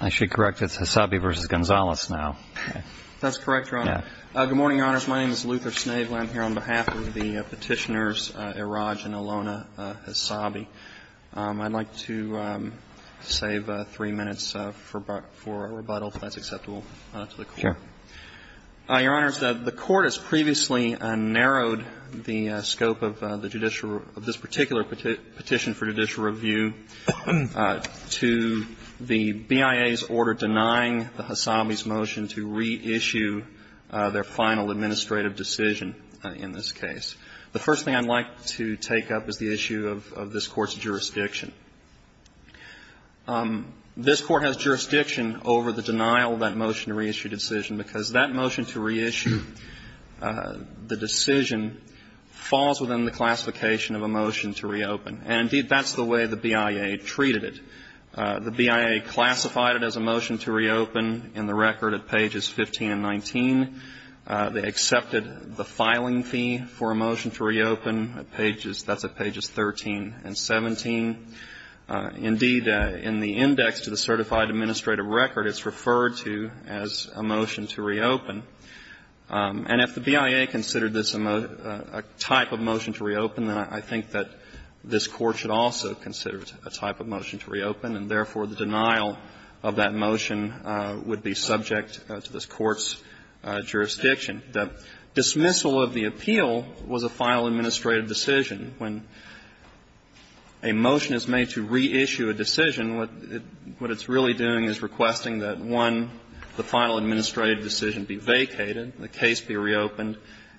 I should correct, it's HESSABI v. GONZALES now. That's correct, Your Honor. Good morning, Your Honors. My name is Luther Snavely. I'm here on behalf of the petitioners, Iraj and Ilona HESSABI. I'd like to save three minutes for rebuttal, if that's acceptable to the Court. Sure. Your Honors, the Court has previously narrowed the scope of this particular petition for judicial review to the BIA's order denying the HESSABI's motion to reissue their final administrative decision in this case. The first thing I'd like to take up is the issue of this Court's jurisdiction. This Court has jurisdiction over the denial of that motion to reissue decision because that motion to reissue the decision falls within the classification of a motion to reopen. And, indeed, that's the way the BIA treated it. The BIA classified it as a motion to reopen in the record at pages 15 and 19. They accepted the filing fee for a motion to reopen at pages 13 and 17. Indeed, in the index to the certified administrative record, it's referred to as a motion to reopen. And if the BIA considered this a type of motion to reopen, then I think that this Court should also consider it a type of motion to reopen. And, therefore, the denial of that motion would be subject to this Court's jurisdiction. The dismissal of the appeal was a final administrative decision. When a motion is made to reissue a decision, what it's really doing is requesting that, one, the final administrative decision be vacated, the case be reopened,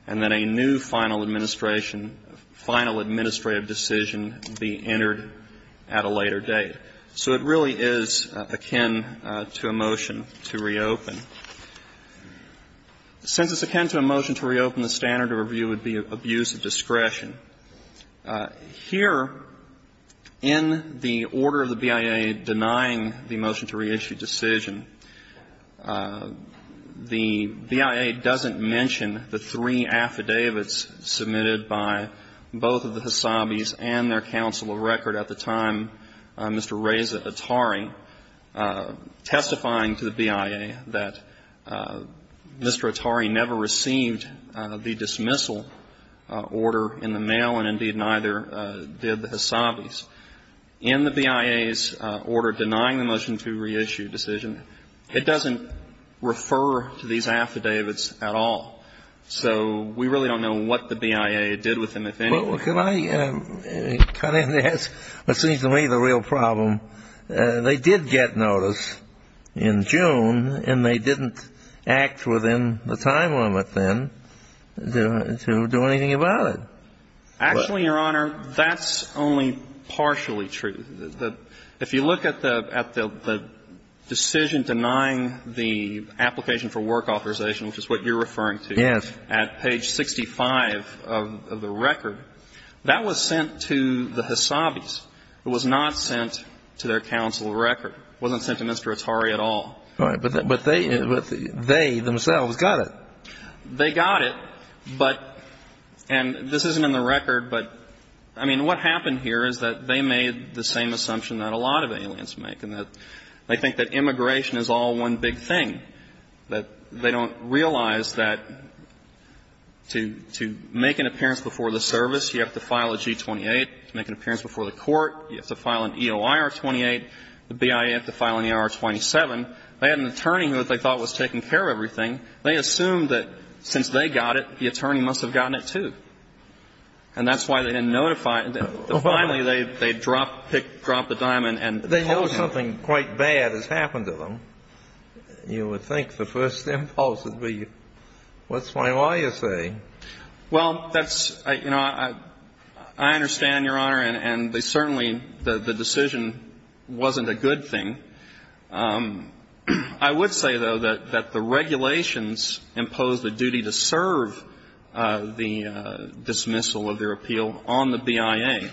and then a new final administration, final administrative decision be entered at a later date. So it really is akin to a motion to reopen. Since it's akin to a motion to reopen, the standard of review would be abuse of discretion. Here, in the order of the BIA denying the motion to reissue decision, the BIA doesn't mention the three affidavits submitted by both of the Hasabis and their counsel of record at the time, Mr. Reza Attari, testifying to the BIA that Mr. Attari never received the dismissal order in the mail, and, indeed, neither did the Hasabis. In the BIA's order denying the motion to reissue decision, it doesn't refer to these affidavits at all. So we really don't know what the BIA did with them, if any. But could I cut in there? That seems to me the real problem. They did get notice in June, and they didn't act within the time limit then to do anything about it. Actually, Your Honor, that's only partially true. If you look at the decision denying the application for work authorization, which is what you're referring to at page 65 of the record, that was sent to the Hasabis. It was not sent to their counsel of record. It wasn't sent to Mr. Attari at all. All right. But they themselves got it. They got it. And this isn't in the record, but, I mean, what happened here is that they made the same assumption that a lot of aliens make, and they think that immigration is all one big thing, that they don't realize that to make an appearance before the service, you have to file a G-28 to make an appearance before the court. You have to file an EOIR-28. The BIA had to file an EOIR-27. They had an attorney who they thought was taking care of everything. They assumed that since they got it, the attorney must have gotten it, too. And that's why they didn't notify. Finally, they dropped the diamond and told him. They know something quite bad has happened to them. You would think the first impulse would be, what's my lawyer saying? Well, that's, you know, I understand, Your Honor, and they certainly, the decision wasn't a good thing. I would say, though, that the regulations impose the duty to serve the dismissal of their appeal on the BIA,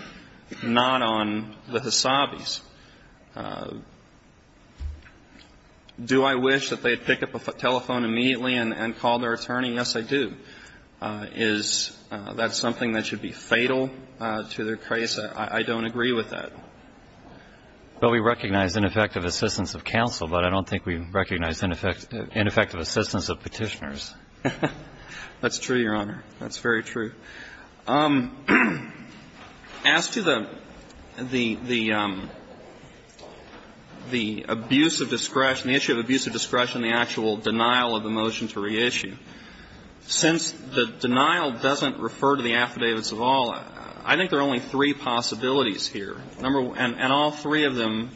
not on the Hasabis. Do I wish that they had picked up a telephone immediately and called their attorney? Yes, I do. Is that something that should be fatal to their case? I don't agree with that. Well, we recognize ineffective assistance of counsel, but I don't think we recognize ineffective assistance of Petitioners. That's true, Your Honor. That's very true. As to the abuse of discretion, the issue of abuse of discretion and the actual denial of the motion to reissue, since the denial doesn't refer to the affidavits of all, I think there are only three possibilities here. And all three of them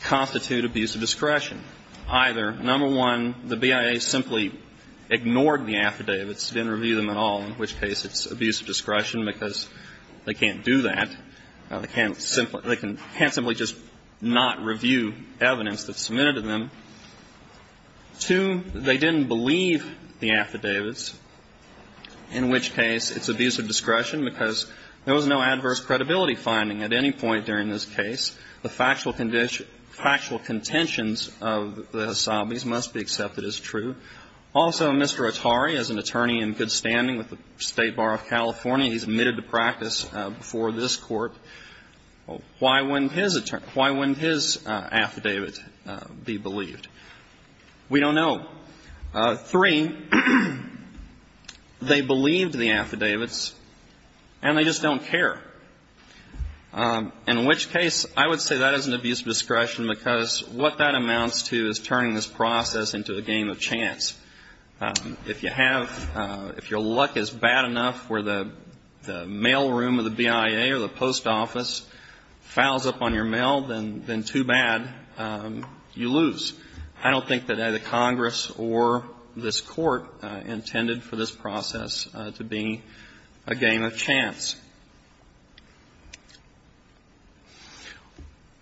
constitute abuse of discretion. Either, number one, the BIA simply ignored the affidavits, didn't review them at all, in which case it's abuse of discretion because they can't do that. They can't simply just not review evidence that's submitted to them. Two, they didn't believe the affidavits, in which case it's abuse of discretion because there was no adverse credibility finding at any point during this case. The factual contentions of the Hasabis must be accepted as true. Also, Mr. Attari, as an attorney in good standing with the State Bar of California, he's admitted to practice before this Court. Why wouldn't his affidavit be believed? We don't know. Three, they believed the affidavits and they just don't care, in which case I would say that isn't abuse of discretion because what that amounts to is turning this process into a game of chance. If you have, if your luck is bad enough where the mail room of the BIA or the post office fouls up on your mail, then too bad, you lose. I don't think that either Congress or this Court intended for this process to be a game of chance.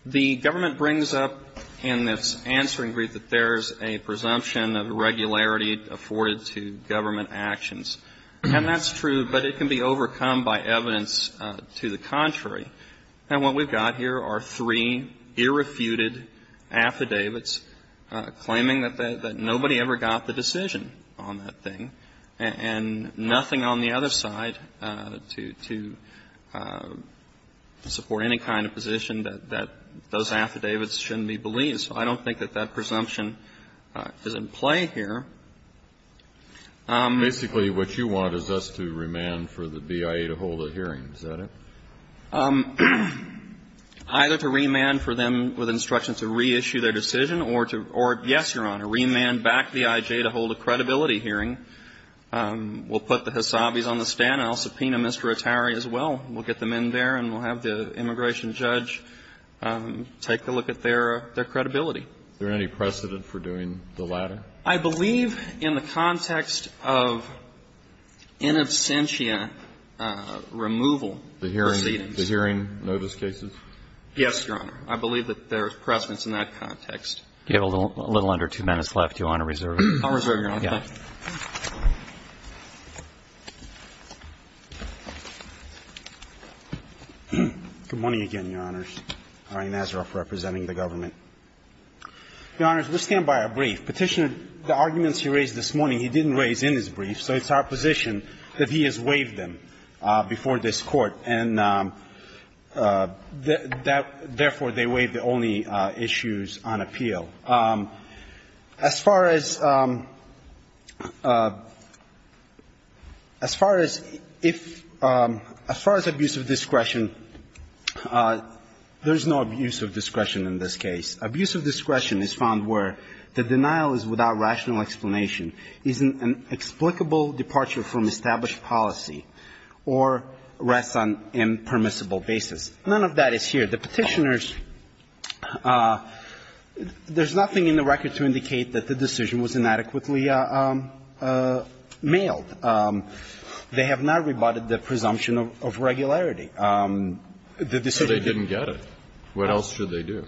The government brings up in its answering brief that there's a presumption of regularity afforded to government actions. And that's true, but it can be overcome by evidence to the contrary. And what we've got here are three irrefuted affidavits claiming that nobody ever got the decision on that thing and nothing on the other side to support any kind of position that those affidavits shouldn't be believed. So I don't think that that presumption is in play here. Basically, what you want is us to remand for the BIA to hold a hearing. Is that it? Either to remand for them with instructions to reissue their decision or to, yes, Your Honor, remand back the IJ to hold a credibility hearing. We'll put the Hasabis on the stand. I'll subpoena Mr. Attari as well. We'll get them in there and we'll have the immigration judge take a look at their credibility. Is there any precedent for doing the latter? I believe in the context of in absentia removal proceedings. The hearing notice cases? Yes, Your Honor. I believe that there is precedence in that context. You have a little under two minutes left. Do you want to reserve it? I'll reserve your honor. Good morning again, Your Honors. Ari Nazaroff representing the government. Your Honors, we'll stand by our brief. Petitioner, the arguments he raised this morning, he didn't raise in his brief. So it's our position that he has waived them before this Court. And therefore, they waive the only issues on appeal. As far as abuse of discretion, there's no abuse of discretion in this case. Abuse of discretion is found where the denial is without rational explanation, is an explicable departure from established policy, or rests on impermissible basis. None of that is here. The Petitioners, there's nothing in the record to indicate that the decision was inadequately mailed. They have not rebutted the presumption of regularity. The decision didn't get it. What else should they do?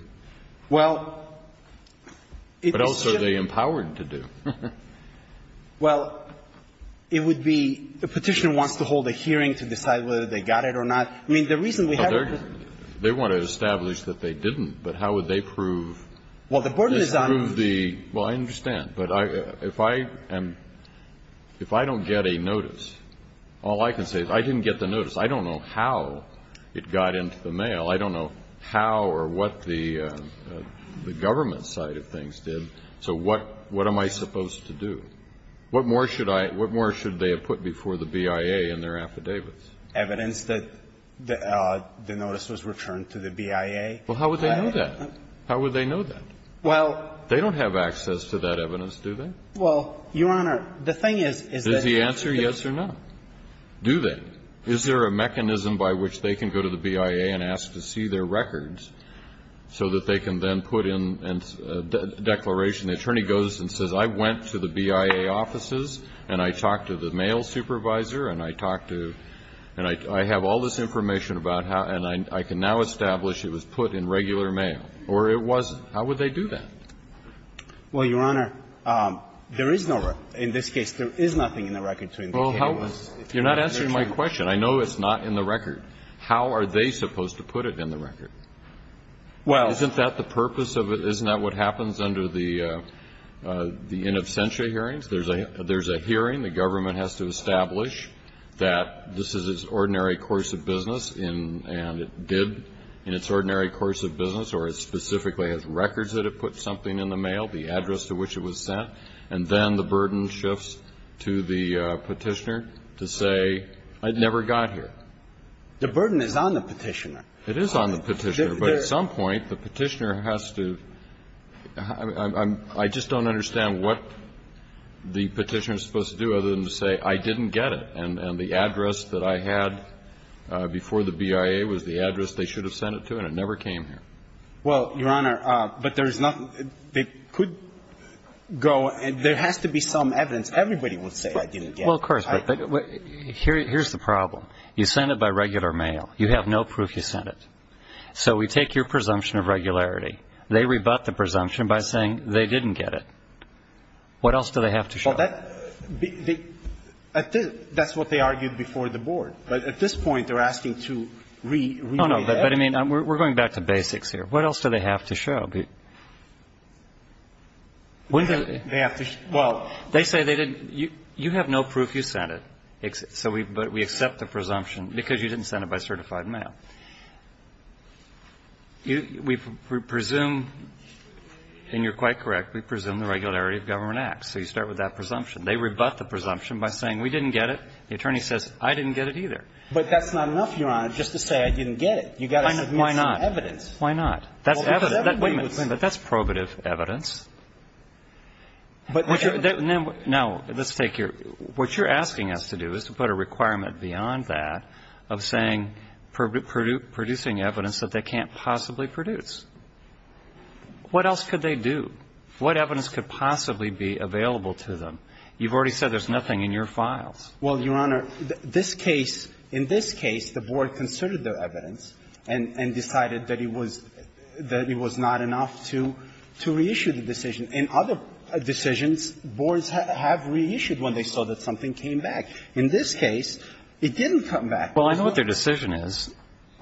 Well, it should be. What else are they empowered to do? Well, it would be the Petitioner wants to hold a hearing to decide whether they got it or not. I mean, the reason we have to prove it. They want to establish that they didn't, but how would they prove? Well, the point is I'm. Well, I understand. But if I don't get a notice, all I can say is I didn't get the notice. I don't know how it got into the mail. I don't know how or what the government side of things did. So what am I supposed to do? What more should they have put before the BIA in their affidavits? Evidence that the notice was returned to the BIA? Well, how would they know that? How would they know that? Well. They don't have access to that evidence, do they? Well, Your Honor, the thing is, is that. Is the answer yes or no? Do they? Is there a mechanism by which they can go to the BIA and ask to see their records so that they can then put in a declaration? The attorney goes and says, I went to the BIA offices and I talked to the mail supervisor and I talked to, and I have all this information about how, and I can now establish it was put in regular mail. Or it wasn't. How would they do that? Well, Your Honor, there is no record. In this case, there is nothing in the record to indicate it was. You're not answering my question. I know it's not in the record. How are they supposed to put it in the record? Well. Isn't that the purpose of it? Isn't that what happens under the in absentia hearings? There's a hearing. The government has to establish that this is its ordinary course of business and it did in its ordinary course of business, or it specifically has records that it put something in the mail, the address to which it was sent. And then the burden shifts to the Petitioner to say, I never got here. The burden is on the Petitioner. It is on the Petitioner. But at some point, the Petitioner has to – I just don't understand what the Petitioner is supposed to do other than to say, I didn't get it. And the address that I had before the BIA was the address they should have sent it to, and it never came here. Well, Your Honor, but there is nothing. They could go – there has to be some evidence. Everybody would say I didn't get it. Well, of course. But here's the problem. You sent it by regular mail. You have no proof you sent it. So we take your presumption of regularity. They rebut the presumption by saying they didn't get it. What else do they have to show? Well, that – that's what they argued before the Board. But at this point, they're asking to – No, no. But, I mean, we're going back to basics here. What else do they have to show? They have to – well, they say they didn't – you have no proof you sent it. So we accept the presumption because you didn't send it by certified mail. We presume – and you're quite correct. We presume the regularity of government acts. So you start with that presumption. They rebut the presumption by saying we didn't get it. The attorney says I didn't get it either. But that's not enough, Your Honor, just to say I didn't get it. You've got to submit some evidence. Why not? Why not? That's evidence. Wait a minute. That's probative evidence. Now, let's take your – what you're asking us to do is to put a requirement beyond that of saying – producing evidence that they can't possibly produce. What else could they do? What evidence could possibly be available to them? You've already said there's nothing in your files. Well, Your Honor, this case – in this case, the Board considered their evidence and decided that it was – that it was not enough to reissue the decision. In other decisions, boards have reissued when they saw that something came back. In this case, it didn't come back. Well, I know what their decision is.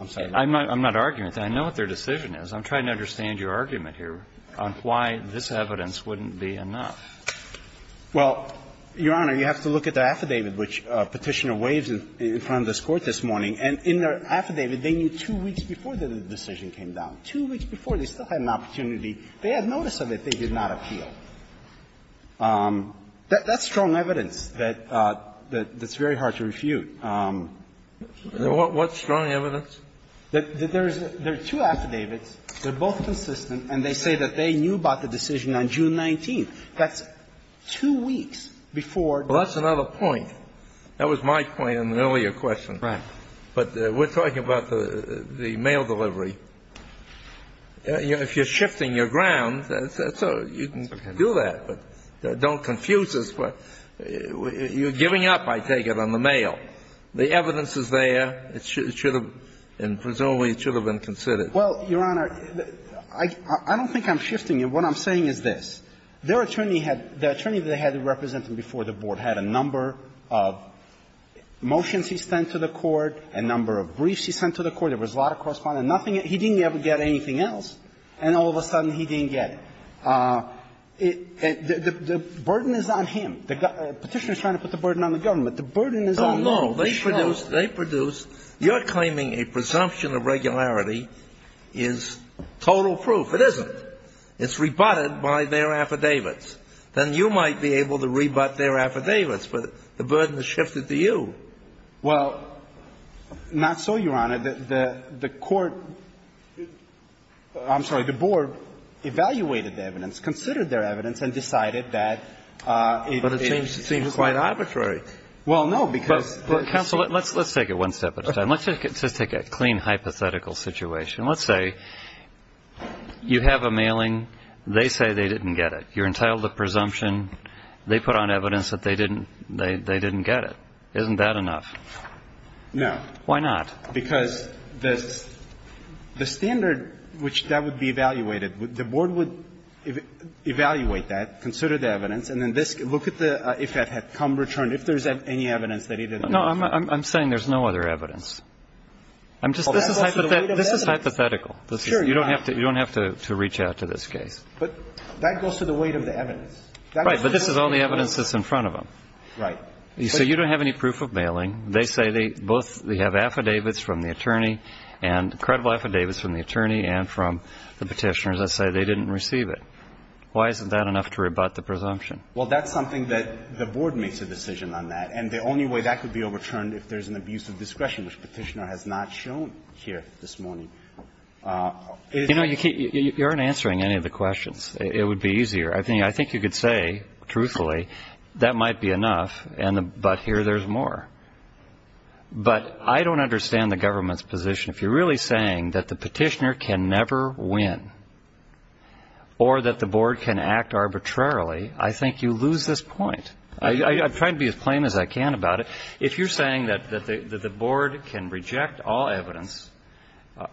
I'm sorry. I'm not arguing with that. I know what their decision is. I'm trying to understand your argument here on why this evidence wouldn't be enough. Well, Your Honor, you have to look at their affidavit, which Petitioner waives in front of this Court this morning. And in their affidavit, they knew two weeks before the decision came down. Two weeks before, they still had an opportunity. They had notice of it. They did not appeal. That's strong evidence that's very hard to refute. What's strong evidence? There's two affidavits. They're both consistent, and they say that they knew about the decision on June 19th. That's two weeks before. Well, that's another point. That was my point in the earlier question. Right. But we're talking about the mail delivery. If you're shifting your ground, you can do that. Don't confuse us. You're giving up, I take it, on the mail. The evidence is there. It should have been considered. Well, Your Honor, I don't think I'm shifting you. What I'm saying is this. Their attorney had the attorney they had representing before the Board had a number of motions he sent to the Court, a number of briefs he sent to the Court. There was a lot of correspondence. He didn't ever get anything else, and all of a sudden he didn't get it. The burden is on him. The Petitioner is trying to put the burden on the government. The burden is on him. No, no. They produced you're claiming a presumption of regularity is total proof. It isn't. It's rebutted by their affidavits. Then you might be able to rebut their affidavits, but the burden is shifted to you. Well, not so, Your Honor. The Court – I'm sorry. The Board evaluated the evidence, considered their evidence, and decided that it seems quite arbitrary. Well, no. Counsel, let's take it one step at a time. Let's just take a clean hypothetical situation. Let's say you have a mailing. They say they didn't get it. You're entitled to presumption. They put on evidence that they didn't get it. Isn't that enough? No. Why not? Because the standard which that would be evaluated, the Board would evaluate that, consider the evidence, and then this – look at the if that had come, returned, if there's any evidence that he didn't get it. No, I'm saying there's no other evidence. I'm just – Well, that goes to the weight of the evidence. This is hypothetical. Sure, Your Honor. You don't have to reach out to this case. But that goes to the weight of the evidence. Right, but this is all the evidence that's in front of them. Right. So you don't have any proof of mailing. They say they both have affidavits from the attorney and credible affidavits from the attorney and from the Petitioner that say they didn't receive it. Why isn't that enough to rebut the presumption? Well, that's something that the Board makes a decision on that. And the only way that could be overturned if there's an abuse of discretion, which Petitioner has not shown here this morning, is – You know, you aren't answering any of the questions. It would be easier. I think you could say, truthfully, that might be enough, but here there's more. But I don't understand the government's position. If you're really saying that the Petitioner can never win or that the Board can act arbitrarily, I think you lose this point. I'm trying to be as plain as I can about it. If you're saying that the Board can reject all evidence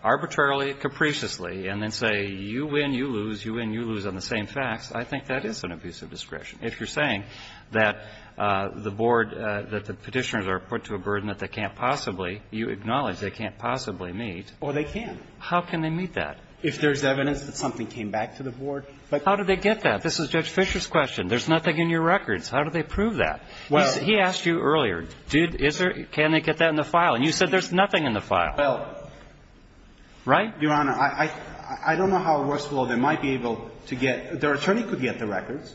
arbitrarily, capriciously, and then say you win, you lose, you win, you lose on the same facts, I think that is an abuse of discretion. If you're saying that the Board, that the Petitioners are put to a burden that they can't possibly, you acknowledge they can't possibly meet. Well, they can. How can they meet that? If there's evidence that something came back to the Board. But how do they get that? This is Judge Fischer's question. There's nothing in your records. How do they prove that? He asked you earlier, did, is there, can they get that in the file? And you said there's nothing in the file. Well. Right? Your Honor, I don't know how it works. Under this law, they might be able to get, their attorney could get the records.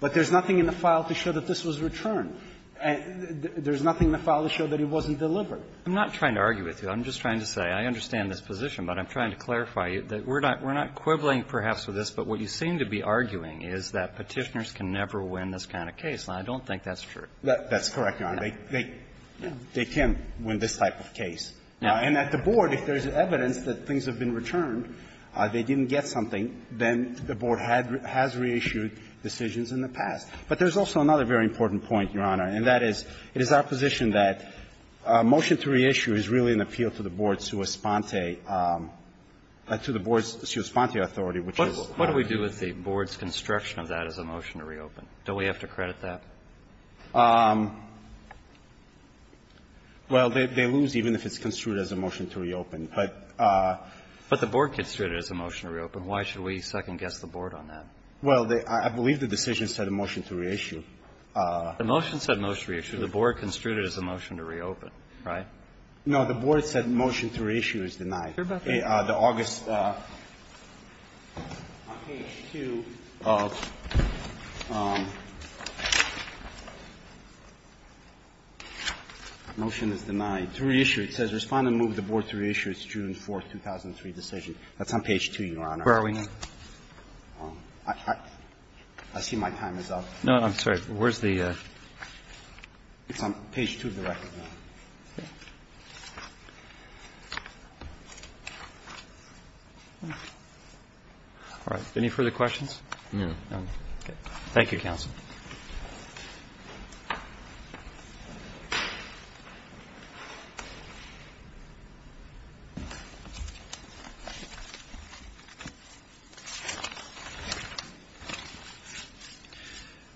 But there's nothing in the file to show that this was returned. There's nothing in the file to show that it wasn't delivered. I'm not trying to argue with you. I'm just trying to say, I understand this position, but I'm trying to clarify you that we're not, we're not quibbling, perhaps, with this. But what you seem to be arguing is that Petitioners can never win this kind of case. And I don't think that's true. That's correct, Your Honor. They can't win this type of case. And at the Board, if there's evidence that things have been returned, they didn't get something, then the Board had, has reissued decisions in the past. But there's also another very important point, Your Honor, and that is, it is our position that a motion to reissue is really an appeal to the Board's sua sponte, to the Board's sua sponte authority, which is what we do. What do we do with the Board's construction of that as a motion to reopen? Don't we have to credit that? Well, they lose even if it's construed as a motion to reopen. But the Board construed it as a motion to reopen. Why should we second-guess the Board on that? Well, I believe the decision said a motion to reissue. The motion said motion to reissue. The Board construed it as a motion to reopen, right? No. The Board said motion to reissue is denied. The August, on page 2 of the motion is denied. To reissue, it says respond and move the Board to reissue its June 4, 2003 decision. That's on page 2, Your Honor. Where are we? I see my time is up. No, I'm sorry. Where's the? It's on page 2 of the record. Okay. All right. Any further questions? No. Okay. Thank you, counsel. Thank you.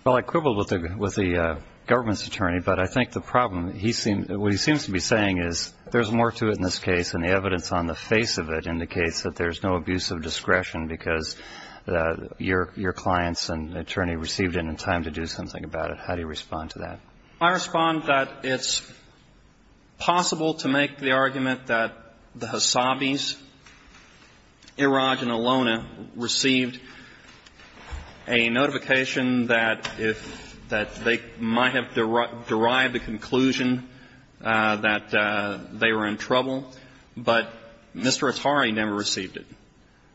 Well, I quibbled with the government's attorney, but I think the problem, what he seems to be saying is there's more to it in this case, and the evidence on the face of it indicates that there's no abuse of discretion because your clients and attorney received it in time to do something about it. How do you respond to that? I respond that it's possible to make the argument that the Hasabis, Iraj, and Alona received a notification that if they might have derived a conclusion that they were in trouble, but Mr. Attari never received it.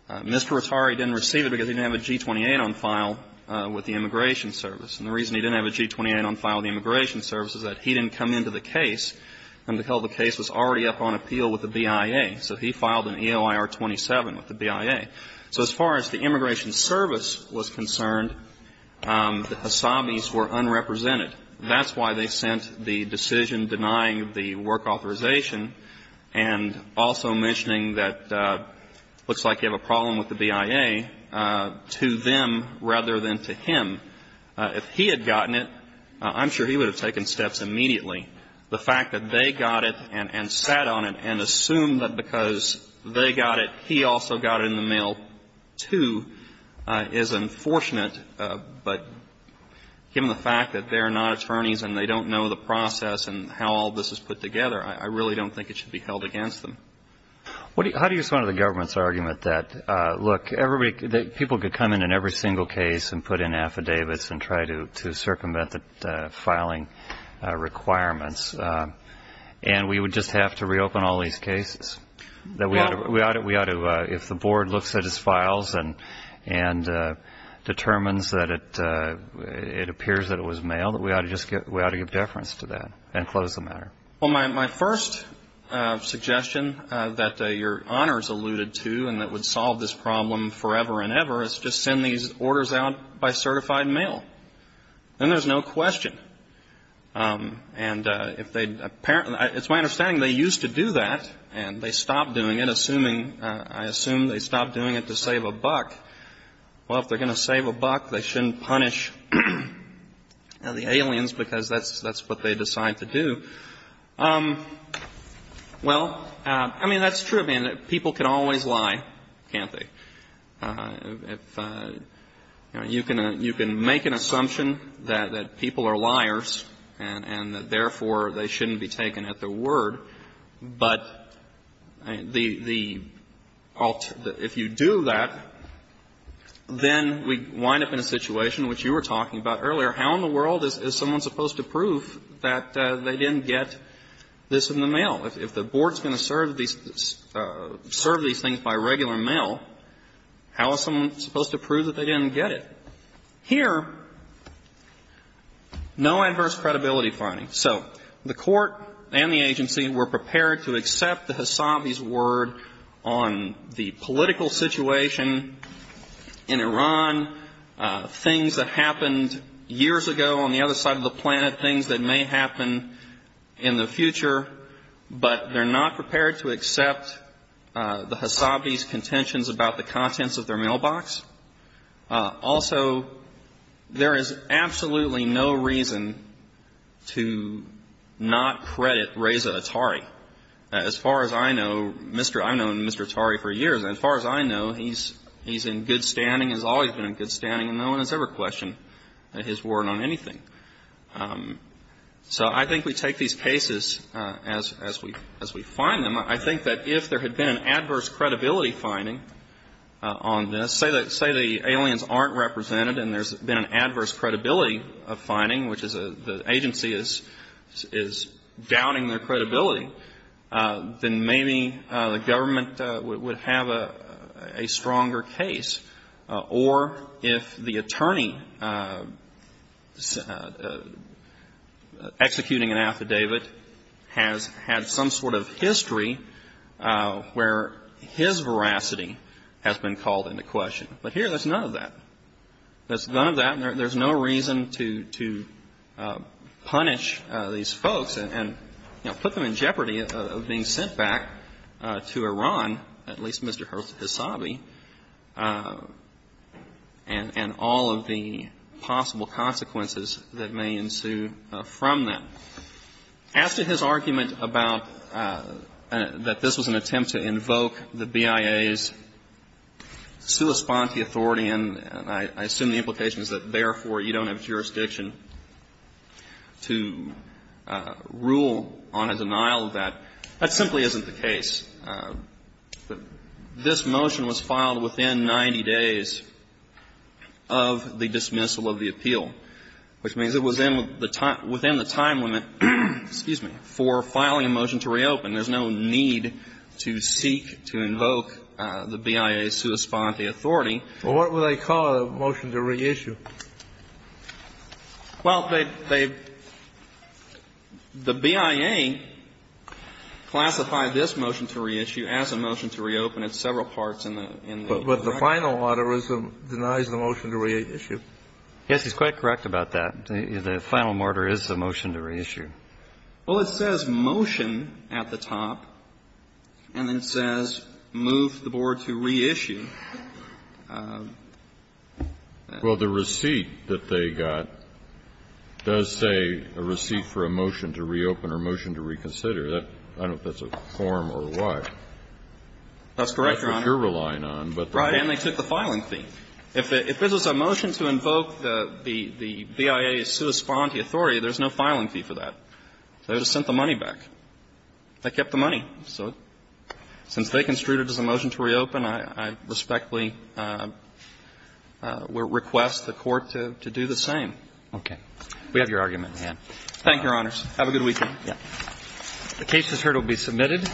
Mr. Attari didn't receive it because he didn't have a G-28 on file with the Immigration Service. And the reason he didn't have a G-28 on file with the Immigration Service is that he didn't come into the case until the case was already up on appeal with the BIA. So he filed an EOIR-27 with the BIA. So as far as the Immigration Service was concerned, the Hasabis were unrepresented. That's why they sent the decision denying the work authorization and also mentioning that it looks like you have a problem with the BIA to them rather than to him. If he had gotten it, I'm sure he would have taken steps immediately. The fact that they got it and sat on it and assumed that because they got it, he also got it in the mail, too, is unfortunate. But given the fact that they're not attorneys and they don't know the process and how all this is put together, I really don't think it should be held against them. How do you respond to the government's argument that, look, people could come in in every single case and put in affidavits and try to circumvent the filing requirements and we would just have to reopen all these cases? If the board looks at his files and determines that it appears that it was mailed, we ought to give deference to that and close the matter? Well, my first suggestion that Your Honors alluded to and that would solve this problem forever and ever is just send these orders out by certified mail. Then there's no question. And if they'd apparently ñ it's my understanding they used to do that and they stopped doing it, assuming ñ I assume they stopped doing it to save a buck. Well, if they're going to save a buck, they shouldn't punish the aliens because that's what they decide to do. Well, I mean, that's true. I mean, people can always lie, can't they? You can make an assumption that people are liars and therefore they shouldn't be taken at their word, but the ñ if you do that, then we wind up in a situation which you were talking about earlier. How in the world is someone supposed to prove that they didn't get this in the mail? If the board's going to serve these things by regular mail, how is someone supposed to prove that they didn't get it? Here, no adverse credibility finding. So the Court and the agency were prepared to accept the Hasabi's word on the political situation in Iran, things that happened years ago on the other side of the planet, things that may happen in the future, but they're not prepared to accept the Hasabi's contentions about the contents of their mailbox. Also, there is absolutely no reason to not credit Reza Attari. As far as I know, Mr. ñ I've known Mr. Attari for years. And as far as I know, he's in good standing, has always been in good standing, and no one has ever questioned his word on anything. So I think we take these cases as we find them. I think that if there had been an adverse credibility finding on this, say the aliens aren't represented and there's been an adverse credibility finding, which is the agency is doubting their credibility, then maybe the government would have a stronger case. Or if the attorney executing an affidavit has had some sort of history where his veracity has been called into question. But here, there's none of that. There's none of that. There's no reason to punish these folks and put them in jeopardy of being sent back to Iran, at least Mr. Hasabi, and all of the possible consequences that may ensue from that. As to his argument about that this was an attempt to invoke the BIA's sua sponte authority, and I assume the implication is that, therefore, you don't have jurisdiction to rule on a denial of that, that simply isn't the case. This motion was filed within 90 days of the dismissal of the appeal, which means it was within the time limit, excuse me, for filing a motion to reopen. There's no need to seek to invoke the BIA's sua sponte authority. Well, what would they call a motion to reissue? Well, they the BIA classified this motion to reissue as a motion to reopen. It's several parts in the record. But the final order denies the motion to reissue. Yes, he's quite correct about that. The final order is the motion to reissue. Well, it says motion at the top, and then it says move the board to reissue. Well, the receipt that they got does say a receipt for a motion to reopen or a motion to reconsider. I don't know if that's a form or what. That's correct, Your Honor. That's what you're relying on. Right, and they took the filing fee. If this was a motion to invoke the BIA's sua sponte authority, there's no filing They just sent the money back. They kept the money. So since they construed it as a motion to reopen, I respectfully request the Court to do the same. Okay. We have your argument in hand. Thank you, Your Honors. Have a good weekend. The case is heard. It will be submitted.